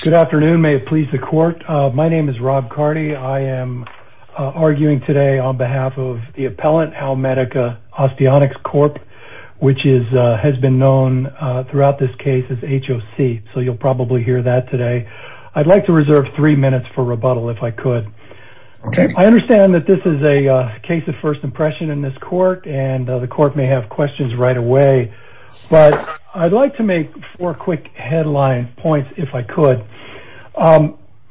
Good afternoon, may it please the court. My name is Rob Carty, I am arguing today on behalf of the appellant, Howmedica Osteonics Corp., which has been known throughout this case as HOC, so you'll probably hear that today. I'd like to reserve three minutes for rebuttal if I could. I understand that this is a case of first impression in this court, and the court may have questions right away, but I'd like to make four quick headline points if I could.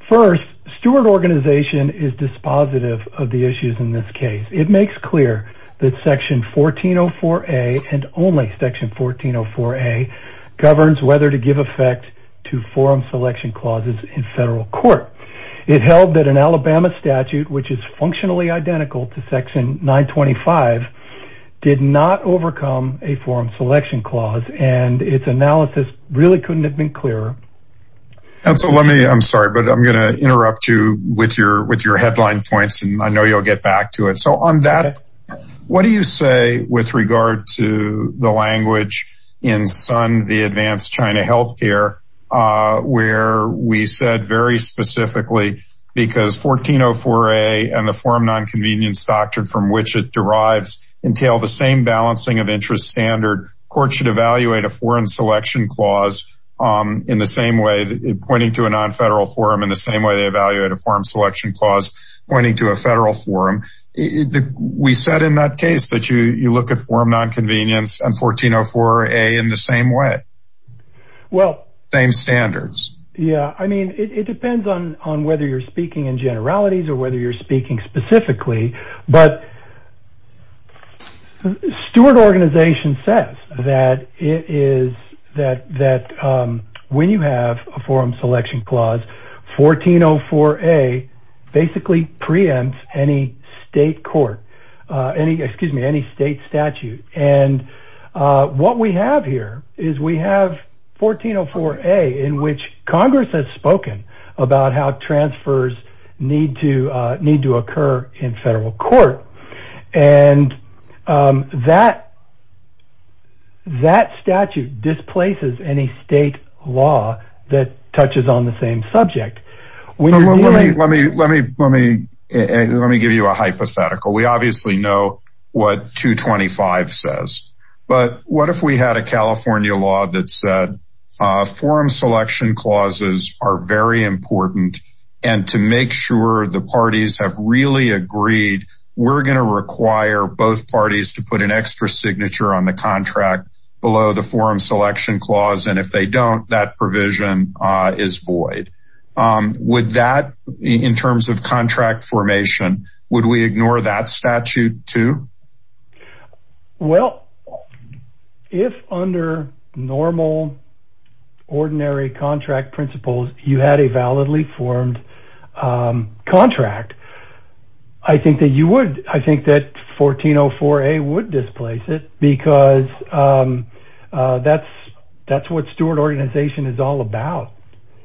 First, Stewart Organization is dispositive of the issues in this case. It makes clear that Section 1404A, and only Section 1404A, governs whether to give effect to forum selection clauses in federal court. It held that an Alabama statute, which is functionally identical to Section 925, did not overcome a forum selection clause, and its analysis really couldn't have been clearer. I'm sorry, but I'm going to interrupt you with your headline points, and I know you'll get back to it. So on that, what do you say with regard to the language in Sun v. Advanced China Health Care, where we said very specifically, because 1404A and the forum nonconvenience doctrine from which it derives entail the same balancing of interest standard, courts should evaluate a forum selection clause in the same way, pointing to a nonfederal forum in the same way they evaluate a forum selection clause pointing to a federal forum. We said in that case that you look at forum nonconvenience and 1404A in the same way. Well. Same standards. Yeah, I mean, it depends on whether you're speaking in generalities or whether you're speaking specifically, but Stuart Organization says that it is, that when you have a forum selection clause, 1404A basically preempts any state court, excuse me, any state statute, and what we have here is we have 1404A in which Congress has spoken about how transfers need to occur in federal court, and that statute displaces any state law that touches on the same subject. Let me give you a hypothetical. We obviously know what 225 says, but what if we had a California law that said forum selection clauses are very important, and to make sure the parties have really agreed, we're going to require both parties to put an extra signature on the contract below the forum selection clause, and if they don't, that provision is void. Would that, in terms of contract formation, would we ignore that statute too? Well, if under normal ordinary contract principles, you had a validly formed contract, I think that you would, I think that 1404A would displace it because that's what Stuart Organization is all about.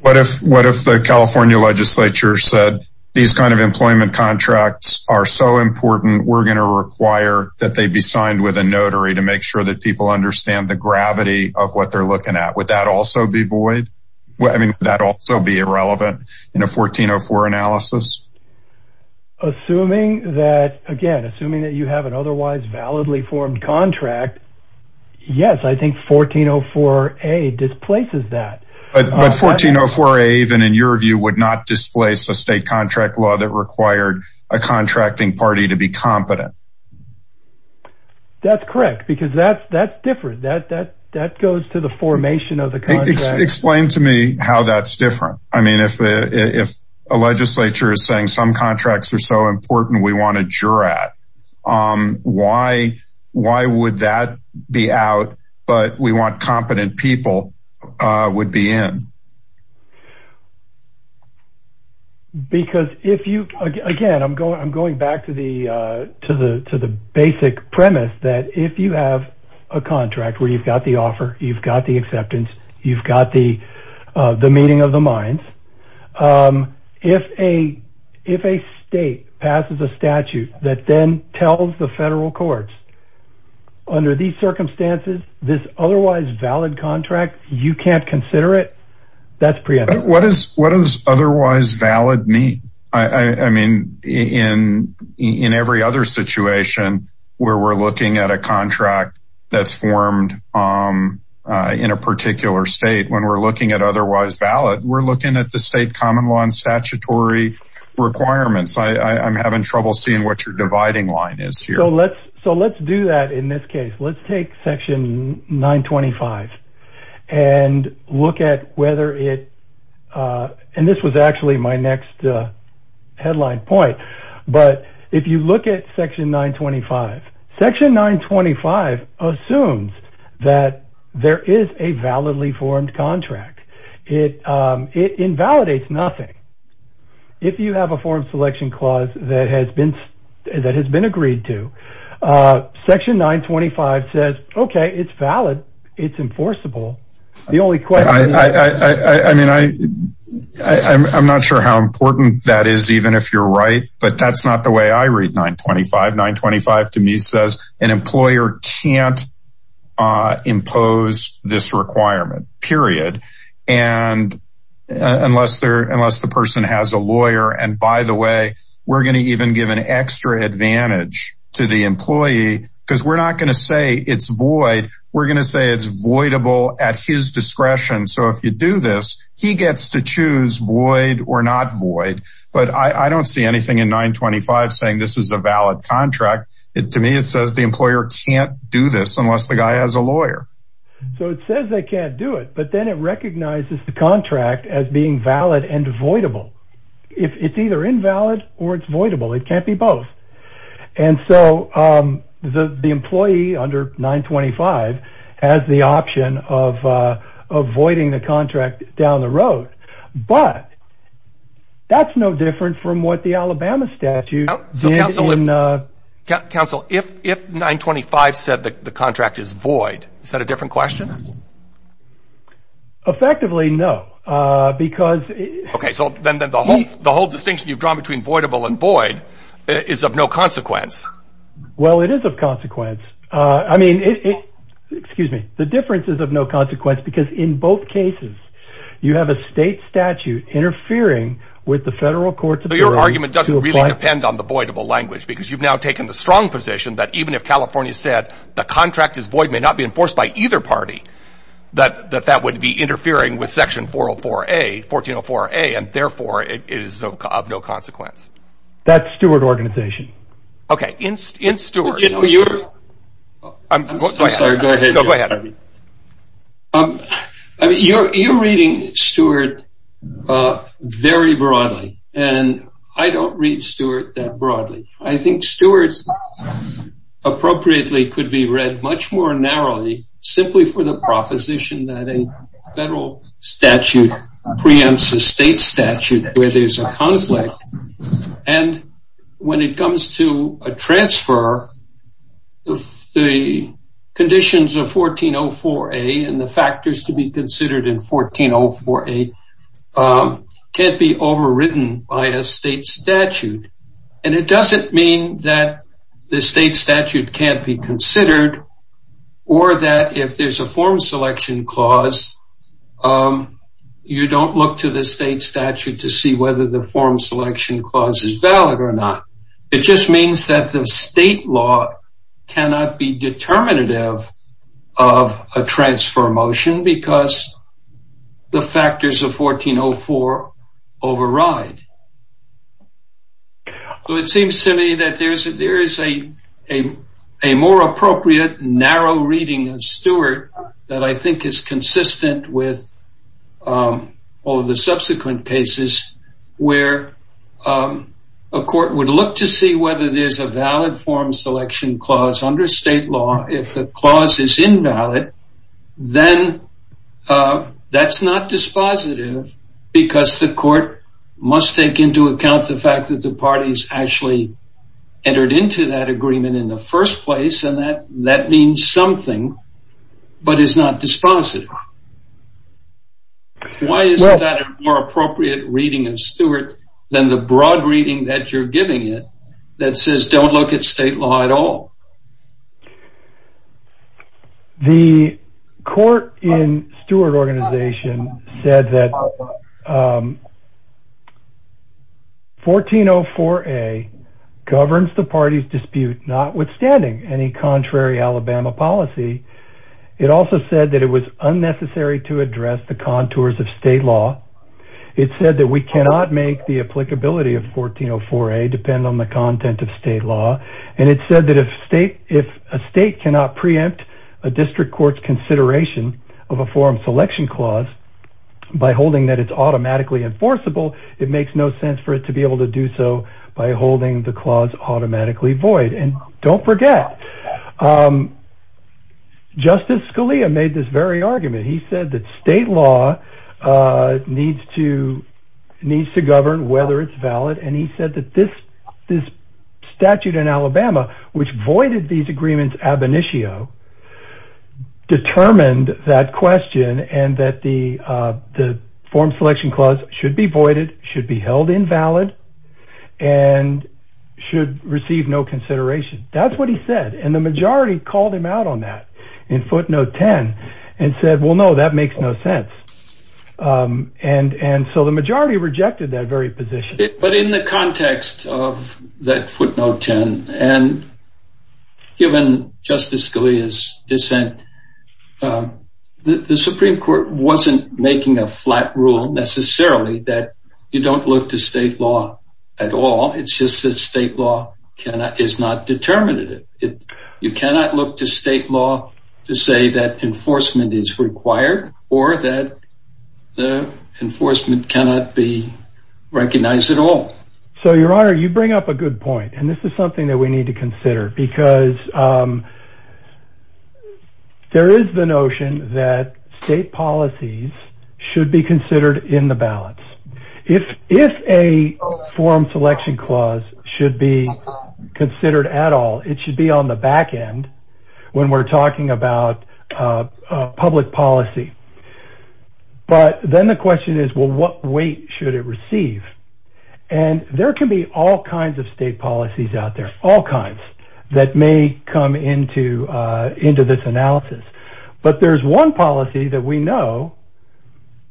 What if the California legislature said these kind of employment contracts are so important, we're going to require that they be signed with a notary to make sure that people understand the gravity of what they're looking at. Would that also be void? I mean, would that also be irrelevant in a 1404 analysis? Assuming that, again, assuming that you have an otherwise validly formed contract, yes, I think 1404A displaces that. But 1404A, even in your view, would not displace a state contract law that required a contracting party to be competent. That's correct, because that's different. That goes to the formation of the contract. Explain to me how that's different. I mean, if a legislature is saying some contracts are so important, we want a juror at, why would that be out, but we want competent people would be in? Because if you, again, I'm going back to the basic premise that if you have a contract where you've got the offer, you've got the acceptance, you've got the meeting of the courts. Under these circumstances, this otherwise valid contract, you can't consider it. That's preemptive. What does what is otherwise valid mean? I mean, in in every other situation where we're looking at a contract that's formed in a particular state, when we're looking at otherwise valid, we're looking at the state common law and statutory requirements. I'm having trouble seeing what your dividing line is here. So let's do that in this case. Let's take Section 925 and look at whether it and this was actually my next headline point. But if you look at Section 925, Section 925 assumes that there is a validly formed contract. It invalidates nothing. If you have a form selection clause that has been that has been agreed to, Section 925 says, OK, it's valid, it's enforceable. The only question I mean, I I'm not sure how important that is, even if you're right. But that's not the way I read 925. 925 to me says an employer can't impose this requirement, period. And unless they're unless the person has a lawyer. And by the way, we're going to even give an extra advantage to the employee because we're not going to say it's void. We're going to say it's voidable at his discretion. So if you do this, he gets to choose void or not void. But I don't see anything in 925 saying this is a valid contract. To me, it says the employer can't do this unless the guy has a lawyer. So it says they can't do it. But then it recognizes the contract as being valid and avoidable if it's either invalid or it's voidable. It can't be both. And so the employee under 925 has the option of avoiding the contract down the road. But. That's no different from what the Alabama statute. So, counsel, if if 925 said that the contract is void, is that a different question? Effectively, no, because. OK, so then the whole the whole distinction you've drawn between voidable and void is of no consequence. Well, it is of consequence. I mean, excuse me. The difference is of no consequence, because in both cases you have a state statute interfering with the federal courts. Your argument doesn't really depend on the voidable language, because you've now taken the strong position that even if California said the contract is void, may not be enforced by either party, that that that would be interfering with Section 404A, 1404A, and therefore it is of no consequence. That's Stewart organization. OK, in Stewart, you know, you're I'm sorry. Go ahead. Go ahead. I mean, you're reading Stewart very broadly. And I don't read Stewart that broadly. I think Stewart's appropriately could be read much more narrowly simply for the proposition that a federal statute preempts a state statute where there's a conflict. And when it comes to a transfer, the conditions of 1404A and the factors to be considered in 1404A can't be overwritten by a state statute. And it doesn't mean that the state statute can't be considered or that if there's a form selection clause, you don't look to the state statute to see whether the form selection clause is valid or not. It just means that the state law cannot be determinative of a transfer motion because the factors of 1404 override. It seems to me that there is a more appropriate, narrow reading of Stewart that I think is consistent with all of the subsequent cases where a court would look to see whether there's a valid form selection clause under state law. If the clause is invalid, then that's not dispositive because the court must take into account the fact that the parties actually entered into that agreement in the first place. And that means something, but it's not dispositive. Why is that a more appropriate reading of Stewart than the broad reading that you're giving it that says don't look at state law at all? The court in Stewart organization said that 1404A governs the party's dispute, not withstanding any contrary Alabama policy. It also said that it was unnecessary to address the contours of state law. It said that we cannot make the applicability of 1404A depend on the content of state law. And it said that if a state cannot preempt a district court's consideration of a form selection clause by holding that it's automatically enforceable, it makes no sense for it to be able to do so by holding the clause automatically void. And don't forget, Justice Scalia made this very argument. He said that state law needs to govern whether it's valid. And he said that this statute in Alabama, which voided these agreements ab initio, determined that question and that the form selection clause should be voided, should be held invalid and should receive no consideration. That's what he said. And the majority called him out on that in footnote 10 and said, well, no, that makes no sense. And and so the majority rejected that very position. But in the context of that footnote 10 and given Justice Scalia's dissent, the Supreme Court wasn't making a flat rule necessarily that you don't look to state law at all. It's just that state law is not determined. You cannot look to state law to say that enforcement is required or that the enforcement cannot be recognized at all. So, Your Honor, you bring up a good point. And this is something that we need to consider, because there is the notion that state policies should be considered in the balance. If if a form selection clause should be considered at all, it should be on the back end when we're talking about public policy. But then the question is, well, what weight should it receive? And there can be all kinds of state policies out there, all kinds that may come into into this analysis. But there's one policy that we know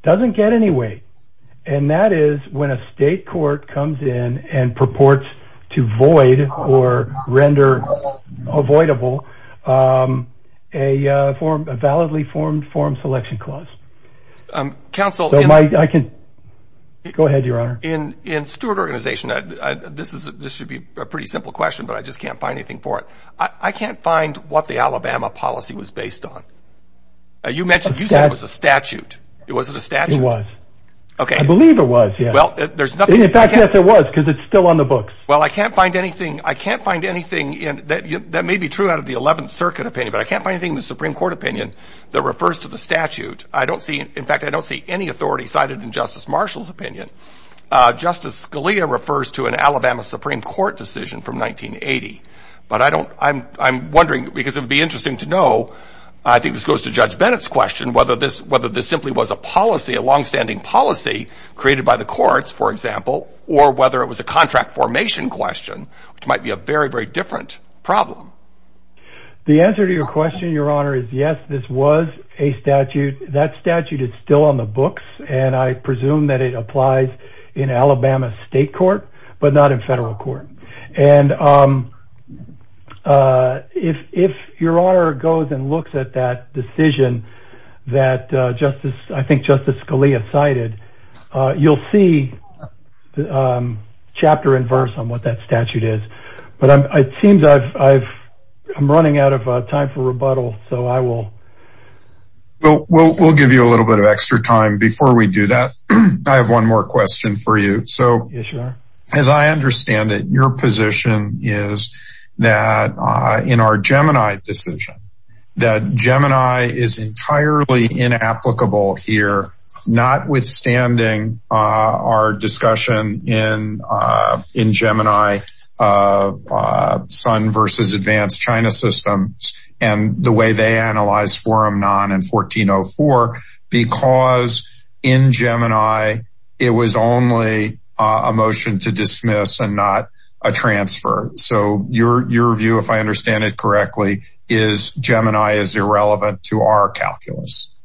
doesn't get any weight. And that is when a state court comes in and purports to void or render avoidable a form, a validly formed form selection clause. Counsel, I can go ahead, Your Honor. In in Stewart Organization, this is this should be a pretty simple question, but I just can't find anything for it. I can't find what the Alabama policy was based on. You mentioned you said it was a statute. It wasn't a statute. It was. I believe it was. Well, there's nothing. In fact, yes, it was because it's still on the books. Well, I can't find anything. I can't find anything that may be true out of the 11th Circuit opinion. But I can't find anything in the Supreme Court opinion that refers to the statute. I don't see. In fact, I don't see any authority cited in Justice Marshall's opinion. Justice Scalia refers to an Alabama Supreme Court decision from 1980. But I don't I'm I'm wondering because it would be interesting to know. I think this goes to Judge Bennett's question, whether this whether this simply was a policy, a longstanding policy created by the courts, for example, or whether it was a contract formation question, which might be a very, very different problem. The answer to your question, Your Honor, is yes, this was a statute. That statute is still on the books, and I presume that it applies in Alabama state court, but not in federal court. And if if Your Honor goes and looks at that decision that Justice, I think Justice Scalia cited, you'll see the chapter and verse on what that statute is. But it seems I've I've I'm running out of time for rebuttal. So I will. Well, we'll give you a little bit of extra time before we do that. I have one more question for you. So as I understand it, your position is that in our Gemini decision that Gemini is Sun versus advanced China systems and the way they analyze forum non and 1404, because in Gemini, it was only a motion to dismiss and not a transfer. So your your view, if I understand it correctly, is Gemini is irrelevant to our calculus.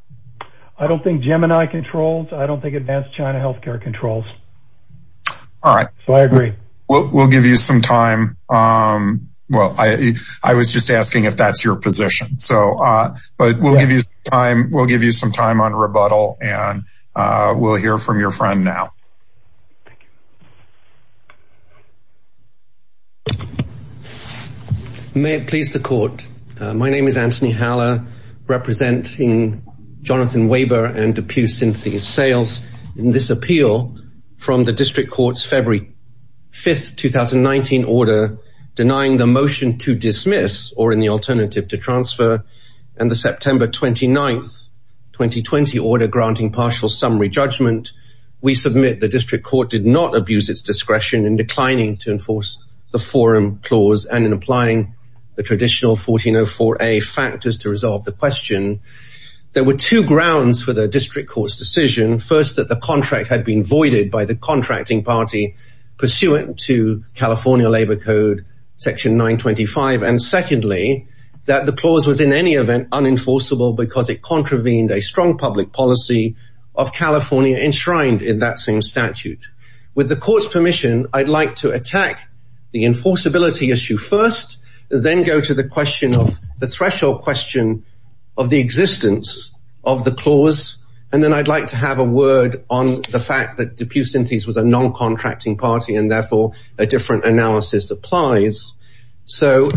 I don't think Gemini controls. I don't think advanced China health care controls. All right. So I agree. We'll give you some time. Well, I was just asking if that's your position. So but we'll give you time. We'll give you some time on rebuttal and we'll hear from your friend now. May it please the court. My name is Anthony Haller representing Jonathan Weber and Depew Synthes sales in this appeal from the district court's February 5th, 2019 order denying the motion to dismiss or in the alternative to transfer and the September 29th, 2020 order granting partial summary judgment. We submit the district court did not abuse its discretion in declining to enforce the forum clause and in applying the traditional 1404A factors to resolve the question. There were two grounds for the district court's decision. First, that the contract had been voided by the contracting party pursuant to California Labor Code Section 925. And secondly, that the clause was in any event unenforceable because it contravened a strong public policy of California enshrined in that same statute. With the court's permission, I'd like to attack the enforceability issue first, then go to the question of the threshold question of the existence of the clause. And then I'd like to have a word on the fact that Depew Synthes was a non-contracting party and therefore a different analysis applies. So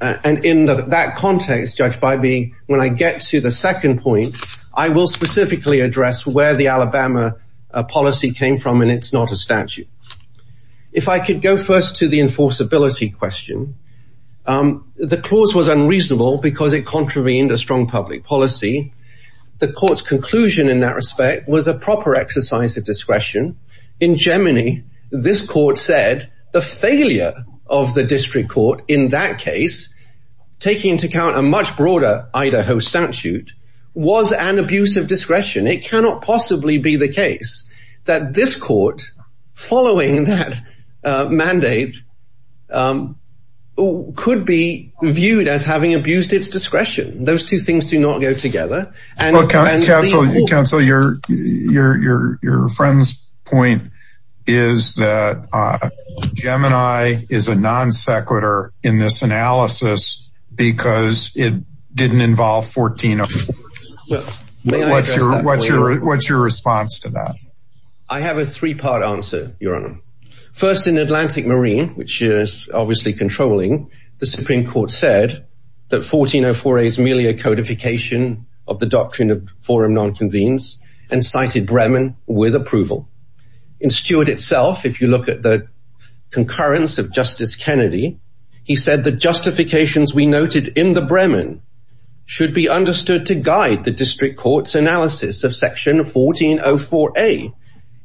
and in that context, Judge Bybee, when I get to the second point, I will specifically address where the Alabama policy came from and it's not a statute. If I could go first to the enforceability question, the clause was unreasonable because it contravened a strong public policy. The court's conclusion in that respect was a proper exercise of discretion. In Gemini, this court said the failure of the district court in that case, taking into account a much broader Idaho statute, was an abuse of discretion. It cannot possibly be the case that this court, following that mandate, could be viewed as having abused its discretion. Those two things do not go together. And counsel, your friend's point is that Gemini is a non-sequitur in this analysis because it didn't involve 14 of them. Well, what's your what's your what's your response to that? I have a three part answer, Your Honor. First, in Atlantic Marine, which is obviously controlling, the Supreme Court said that 1404A is merely a codification of the doctrine of forum non-convenes and cited Bremen with approval. In Stewart itself, if you look at the concurrence of Justice Kennedy, he said the justifications we noted in the Bremen should be understood to guide the district court's analysis of Section 1404A.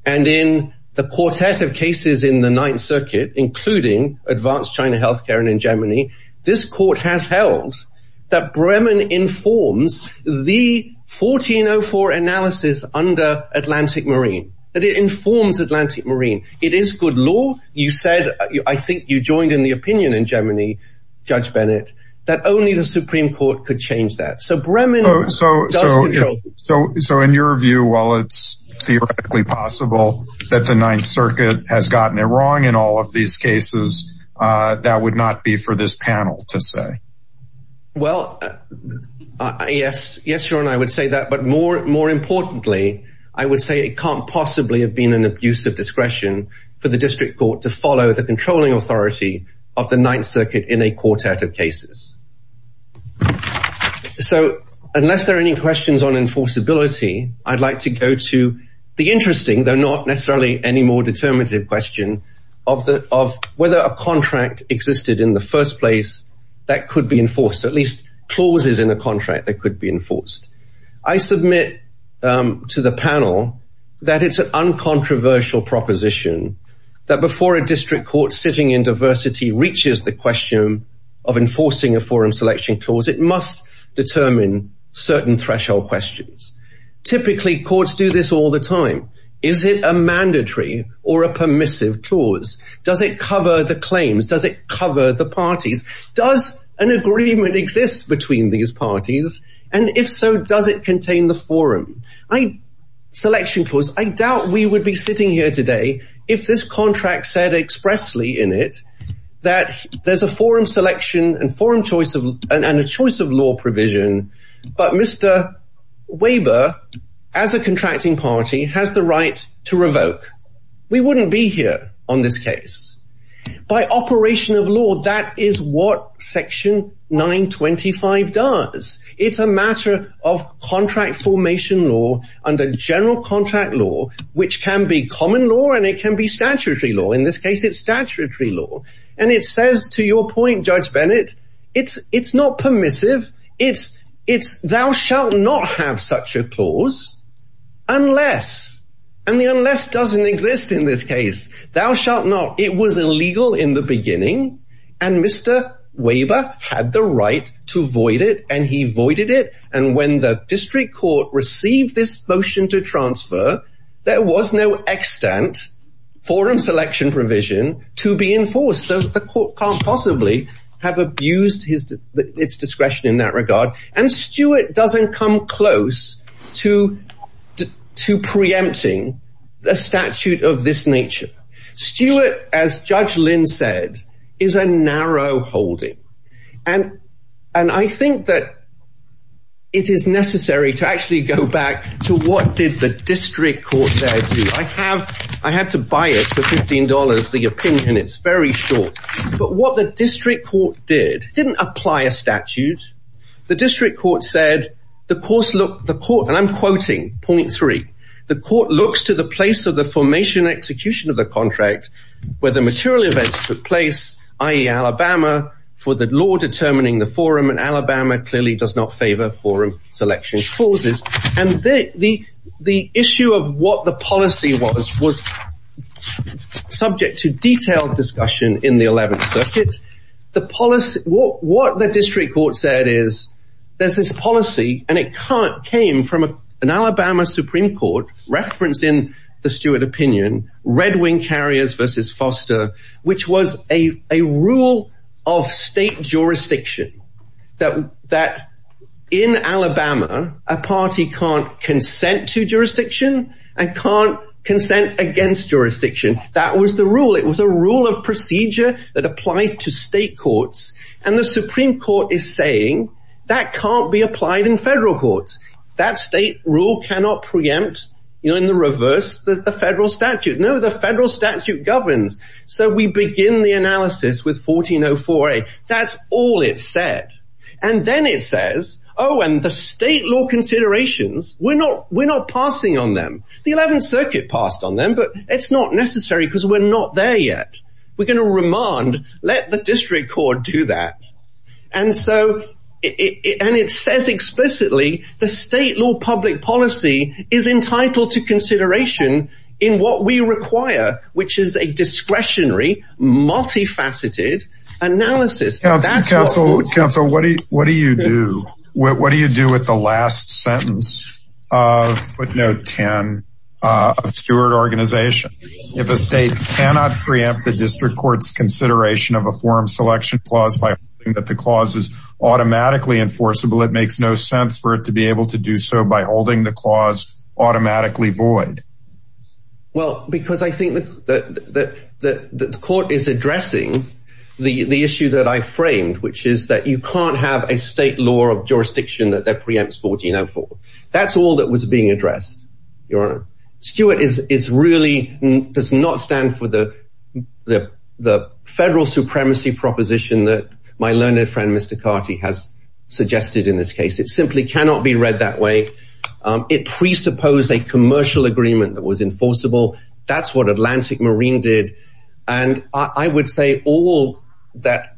And in the quartet of cases in the Ninth Circuit, including advanced China health care and in Gemini, this court has held that Bremen informs the 1404 analysis under Atlantic Marine, that it informs Atlantic Marine. It is good law. You said, I think you joined in the opinion in Gemini, Judge Bennett, that only the Supreme Court could change that. So Bremen does control. So so in your view, while it's theoretically possible that the Ninth Circuit has gotten it wrong in all of these cases, that would not be for this panel to say. Well, yes, yes, Your Honor, I would say that. But more more importantly, I would say it can't possibly have been an abuse of discretion for the district court to follow the controlling authority of the Ninth Circuit in a quartet of cases. So unless there are any questions on enforceability, I'd like to go to the interesting, though not necessarily any more determinative question of the of whether a contract existed in the first place that could be enforced, at least clauses in a contract that could be enforced. I submit to the panel that it's an uncontroversial proposition that before a district court sitting in diversity reaches the question of enforcing a forum selection clause, it must determine certain threshold questions. Typically, courts do this all the time. Is it a mandatory or a permissive clause? Does it cover the claims? Does it cover the parties? Does an agreement exist between these parties? And if so, does it contain the forum selection clause? I doubt we would be sitting here today if this contract said expressly in it that there's a forum selection and forum choice and a choice of law provision. But Mr. Weber, as a contracting party, has the right to revoke. We wouldn't be here on this case. By operation of law, that is what Section 925 does. It's a matter of contract formation law under general contract law, which can be common law and it can be statutory law. In this case, it's statutory law. And it says, to your point, Judge Bennett, it's it's not permissive. It's it's thou shalt not have such a clause unless and the unless doesn't exist in this case. Thou shalt not. It was illegal in the beginning and Mr. Weber had the right to void it and he voided it. And when the district court received this motion to transfer, there was no extant forum selection provision to be enforced. So the court can't possibly have abused its discretion in that regard. And Stewart doesn't come close to to preempting a statute of this nature. Stewart, as Judge Lynn said, is a narrow holding. And and I think that. It is necessary to actually go back to what did the district court there do? I have I had to buy it for 15 dollars, the opinion, it's very short. But what the district court did didn't apply a statute. The district court said the course, look, the court and I'm quoting point three, the contract where the material events took place, i.e., Alabama, for the law determining the forum in Alabama clearly does not favor forum selection clauses. And the the the issue of what the policy was was subject to detailed discussion in the 11th Circuit. The policy, what the district court said is there's this policy and it came from an Alabama Supreme Court reference in the Stewart opinion, Red Wing carriers versus Foster, which was a a rule of state jurisdiction that that in Alabama, a party can't consent to jurisdiction and can't consent against jurisdiction. That was the rule. It was a rule of procedure that applied to state courts. And the Supreme Court is saying that can't be applied in federal courts. That state rule cannot preempt, you know, in the reverse that the federal statute, no, the federal statute governs. So we begin the analysis with 1404. That's all it said. And then it says, oh, and the state law considerations, we're not we're not passing on them. The 11th Circuit passed on them, but it's not necessary because we're not there yet. We're going to remand, let the district court do that. And so and it says explicitly the state law public policy is entitled to consideration in what we require, which is a discretionary, multifaceted analysis. Counsel, counsel, what do you what do you do? What do you do with the last sentence of footnote 10 of Stewart organization? If a state cannot preempt the district court's consideration of a forum selection clause by that, the clause is automatically enforceable. It makes no sense for it to be able to do so by holding the clause automatically void. Well, because I think that the court is addressing the issue that I framed, which is that you can't have a state law of jurisdiction that preempts 1404. That's all that was being addressed. Your Honor, Stewart is is really does not stand for the the the federal supremacy proposition that my learned friend, Mr. Carty, has suggested in this case. It simply cannot be read that way. It presupposed a commercial agreement that was enforceable. That's what Atlantic Marine did. And I would say all that.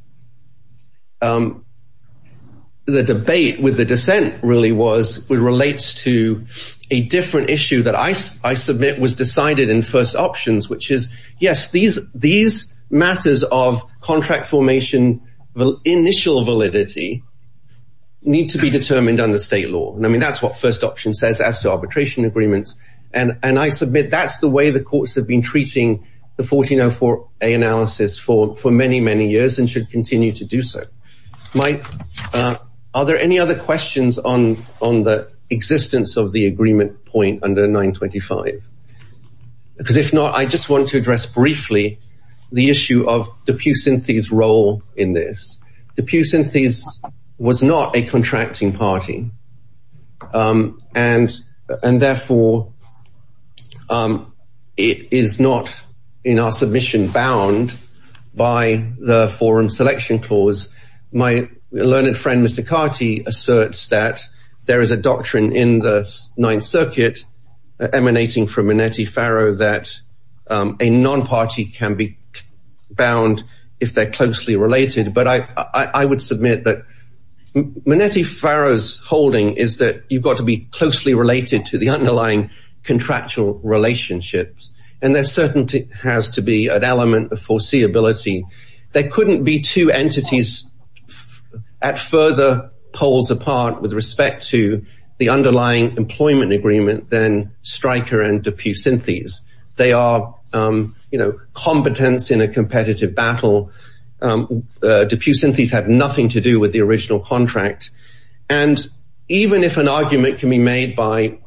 The debate with the dissent really was relates to a different issue that I I submit was decided in first options, which is, yes, these these matters of contract formation, the initial validity need to be determined under state law. And I mean, that's what first option says as to arbitration agreements. And I submit that's the way the courts have been treating the 1404A analysis for for many, many years and should continue to do so. Mike, are there any other questions on on the existence of the agreement point under 925? Because if not, I just want to address briefly the issue of the Pusynthes role in this. The Pusynthes was not a contracting party. And and therefore, it is not in our submission bound by the forum selection clause. My learned friend, Mr. Carty, asserts that there is a doctrine in the Ninth Circuit emanating from Minetti-Farrow that a non-party can be bound if they're closely related. But I would submit that Minetti-Farrow's holding is that you've got to be closely related to the underlying contractual relationships. And there certainly has to be an element of foreseeability. There couldn't be two entities at further poles apart with respect to the underlying employment agreement than Stryker and the Pusynthes. They are, you know, competence in a competitive battle. The Pusynthes had nothing to do with the original contract. And even if an argument can be made by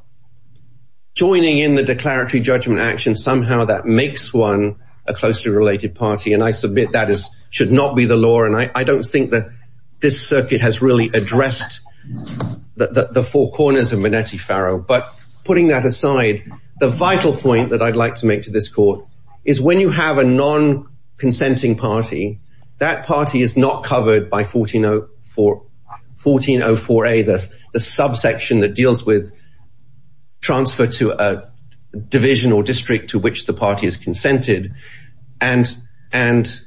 joining in the declaratory judgment action, somehow that makes one a closely related party. And I submit that is should not be the law. And I don't think that this circuit has really addressed the four corners of Minetti-Farrow. But putting that aside, the vital point that I'd like to make to this court is when you have a non-consenting party, that party is not covered by 1404A, the subsection that deals with transfer to a division or district to which the party is consented. And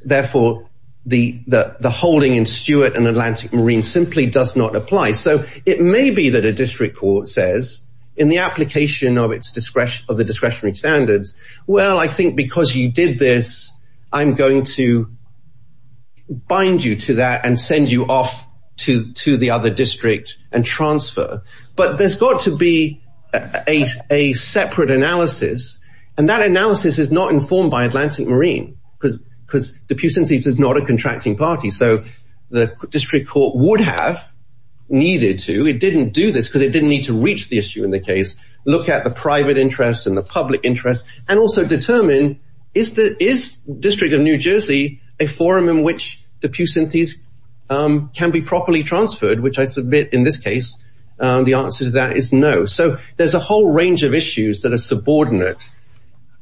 therefore, the holding in Stewart and Atlantic Marine simply does not apply. So it may be that a district court says in the application of its discretion of the discretionary standards, well, I think because you did this, I'm going to bind you to that and send you off to the other district and transfer. But there's got to be a separate analysis. And that analysis is not informed by Atlantic Marine because the Pusynthes is not a contracting party. So the district court would have. Needed to, it didn't do this because it didn't need to reach the issue in the case, look at the private interests and the public interests and also determine is the district of New Jersey a forum in which the Pusynthes can be properly transferred, which I submit in this case, the answer to that is no. So there's a whole range of issues that are subordinate.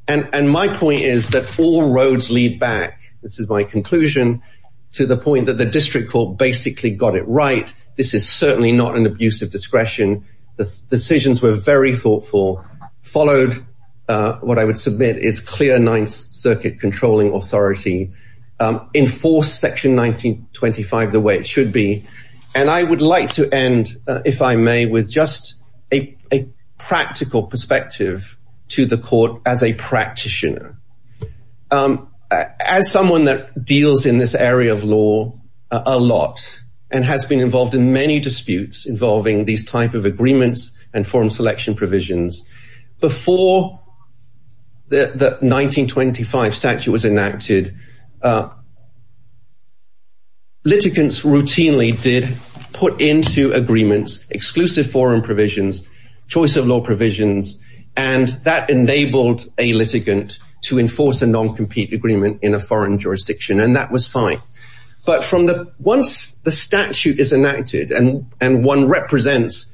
And my point is that all roads lead back. This is my conclusion to the point that the district court basically got it right. This is certainly not an abuse of discretion. The decisions were very thoughtful, followed what I would submit is clear. Ninth Circuit controlling authority enforced Section 1925 the way it should be. And I would like to end, if I may, with just a practical perspective to the court as a someone that deals in this area of law a lot and has been involved in many disputes involving these type of agreements and forum selection provisions before the 1925 statute was enacted. Litigants routinely did put into agreements exclusive forum provisions, choice of law provisions, and that enabled a litigant to enforce a non-compete agreement in a foreign jurisdiction. And that was fine. But from the once the statute is enacted and and one represents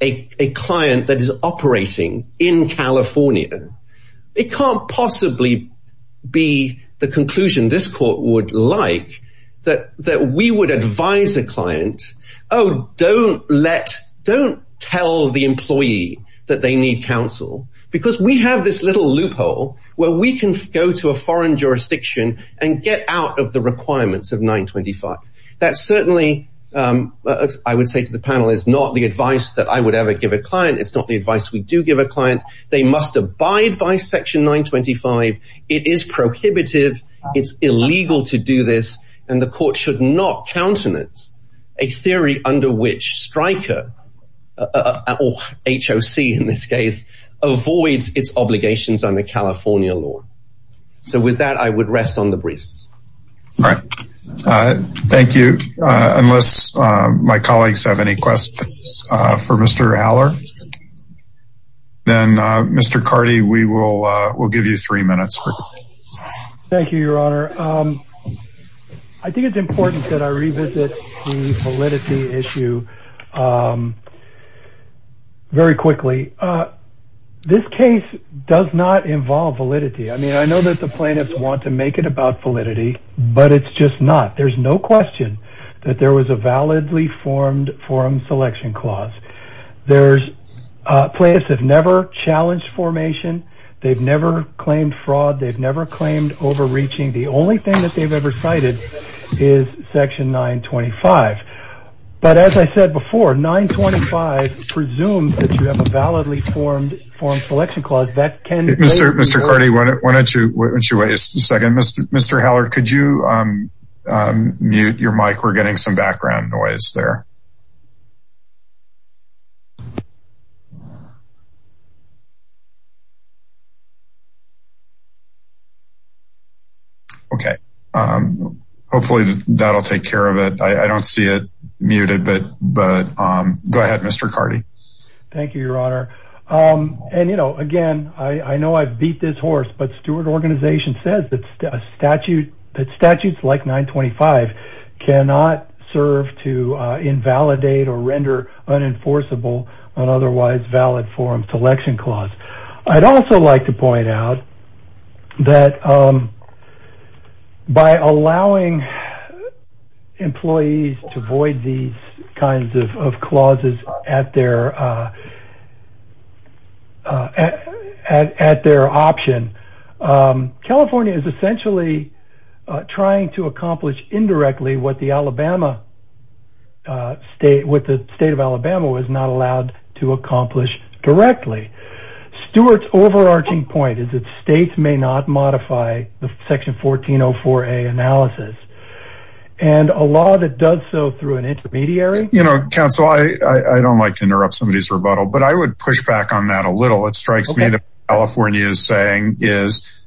a client that is operating in California, it can't possibly be the conclusion this court would like that that we would advise a client, oh, don't let don't tell the employee that they need counsel, because we have this little loophole where we can go to a foreign jurisdiction and get out of the requirements of 925. That certainly, I would say to the panel, is not the advice that I would ever give a client. It's not the advice we do give a client. They must abide by Section 925. It is prohibitive. It's illegal to do this. And the court should not countenance a theory under which Stryker or HOC, in this case, avoids its obligations under California law. So with that, I would rest on the briefs. All right. Thank you. Unless my colleagues have any questions for Mr. Haller, then, Mr. Carty, we will we'll give you three minutes. Thank you, Your Honor. I think it's important that I revisit the validity issue very quickly. This case does not involve validity. I mean, I know that the plaintiffs want to make it about validity, but it's just not. There's no question that there was a validly formed forum selection clause. There's plaintiffs have never challenged formation. They've never claimed fraud. They've never claimed overreaching. The only thing that they've ever cited is Section 925. But as I said before, 925 presumes that you have a validly formed forum selection clause. That can Mr. Mr. Carty, why don't you wait a second? Mr. Haller, could you mute your mic? We're getting some background noise there. OK, hopefully that'll take care of it. I don't see it muted, but but go ahead, Mr. Carty. Thank you, Your Honor. And, you know, again, I know I've beat this horse, but Stewart Organization says that a statute that statutes like 925 cannot serve to invalidate or render unenforceable on otherwise valid forum selection clause. I'd also like to point out that by allowing employees to void these kinds of clauses at their at their option, California is essentially trying to accomplish indirectly what the Alabama state with the state of Alabama was not allowed to accomplish directly. Stewart's overarching point is that states may not modify the Section 1404A analysis and a law that does so through an intermediary. You know, counsel, I don't like to interrupt somebody's rebuttal, but I would push back on that a little. It strikes me that California is saying is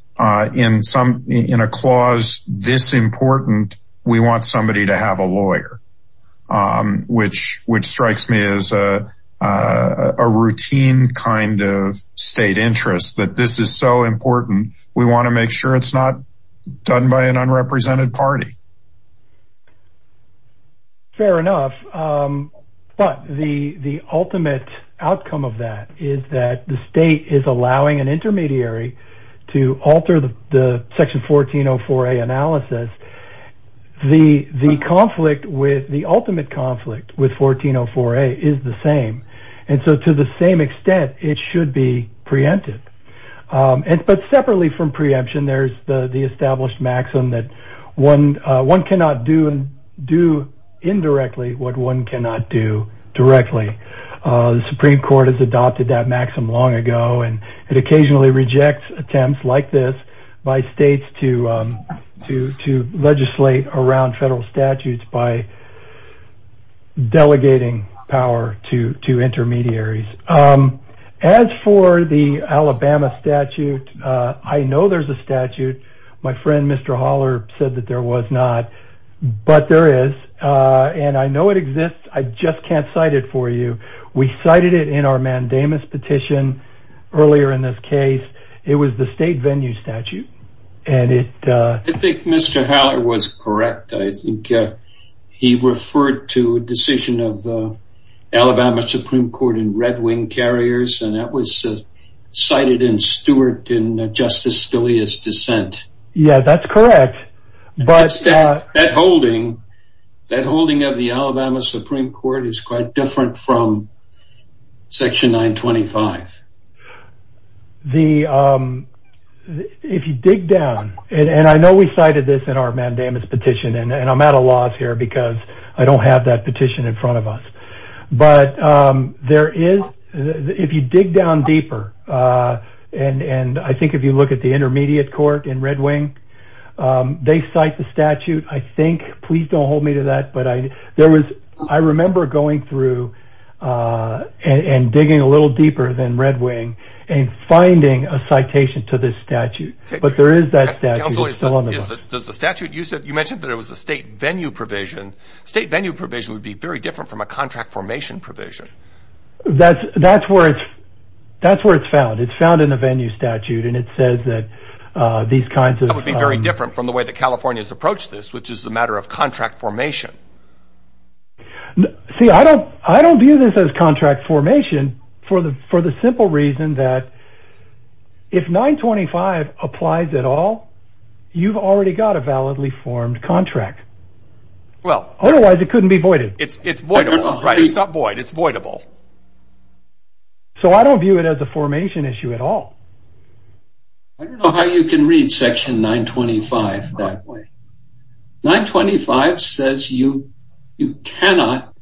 in some in a clause this important. We want somebody to have a lawyer, which which strikes me as a routine kind of state interest that this is so important. We want to make sure it's not done by an unrepresented party. Fair enough, but the the ultimate outcome of that is that the state is allowing an intermediary to alter the Section 1404A analysis. The the conflict with the ultimate conflict with 1404A is the same. And so to the same extent, it should be preempted. But separately from preemption, there's the established maxim that one one cannot do and do indirectly what one cannot do directly. The Supreme Court has adopted that maxim long ago, and it occasionally rejects attempts like this by states to to to legislate around federal statutes by delegating power to to intermediaries. As for the Alabama statute, I know there's a statute. My friend, Mr. Haller, said that there was not, but there is. And I know it exists. I just can't cite it for you. We cited it in our mandamus petition earlier in this case. It was the state venue statute. And it I think Mr. Haller was correct. I think he referred to a decision of the Alabama Supreme Court in Red Wing Carriers, and that was cited in Stewart in Justice Scalia's dissent. Yeah, that's correct. But that holding that holding of the Alabama Supreme Court is quite different from Section 925. The if you dig down and I know we cited this in our mandamus petition, and I'm at a loss here because I don't have that petition in front of us. But there is if you dig down deeper and and I think if you look at the intermediate court in Red Wing, they cite the statute. I think please don't hold me to that. But I there was I remember going through and digging a little deeper than Red Wing and finding a citation to this statute. But there is that. Does the statute use it? You mentioned that it was a state venue provision. State venue provision would be very different from a contract formation provision. That's that's where it's that's where it's found. It's found in the venue statute. And it says that these kinds of would be very different from the way that California has approached this, which is the matter of contract formation. See, I don't I don't view this as contract formation for the for the simple reason that if 925 applies at all, you've already got a validly formed contract. Well, otherwise it couldn't be voided. It's it's voidable, right? It's not void. It's voidable. So I don't view it as a formation issue at all. I don't know how you can read Section 925 that way. 925 says you you cannot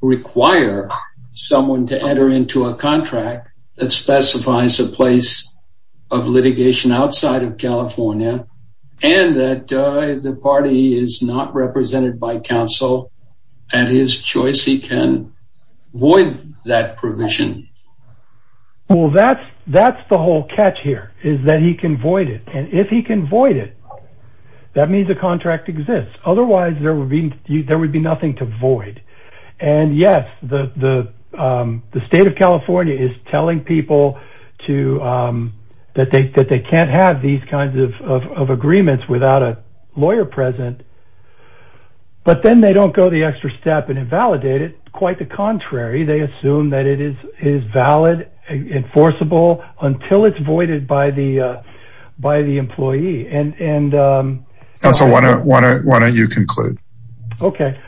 require someone to enter into a contract that specifies a place of litigation outside of California and that the party is not represented by counsel at his choice. He can void that provision. Well, that's that's the whole catch here is that he can void it. And if he can void it, that means a contract exists. Otherwise, there would be there would be nothing to void. And yes, the the the state of California is telling people to that they that they can't have these kinds of agreements without a lawyer present. But then they don't go the extra step and invalidate it. Quite the contrary, they assume that it is is valid, enforceable until it's voided by the by the employee. And so why don't why don't why don't you conclude? OK.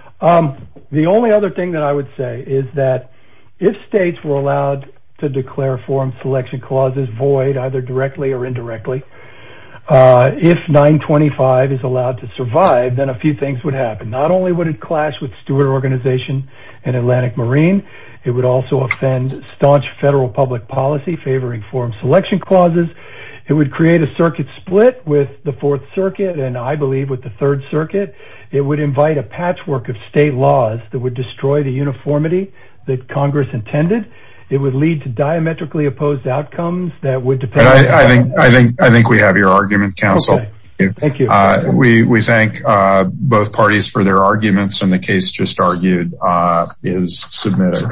The only other thing that I would say is that if states were allowed to declare a forum selection clauses void either directly or indirectly, if 925 is allowed to survive, then a few things would happen. Not only would it clash with Stewart Organization and Atlantic Marine, it would also offend staunch federal public policy favoring forum selection clauses. It would create a circuit split with the Fourth Circuit. And I believe with the Third Circuit, it would invite a patchwork of state laws that would destroy the uniformity that Congress intended. It would lead to diametrically opposed outcomes. That would depend. I think I think I think we have your argument. Counsel, thank you. We thank both parties for their arguments. And the case just argued is submitted.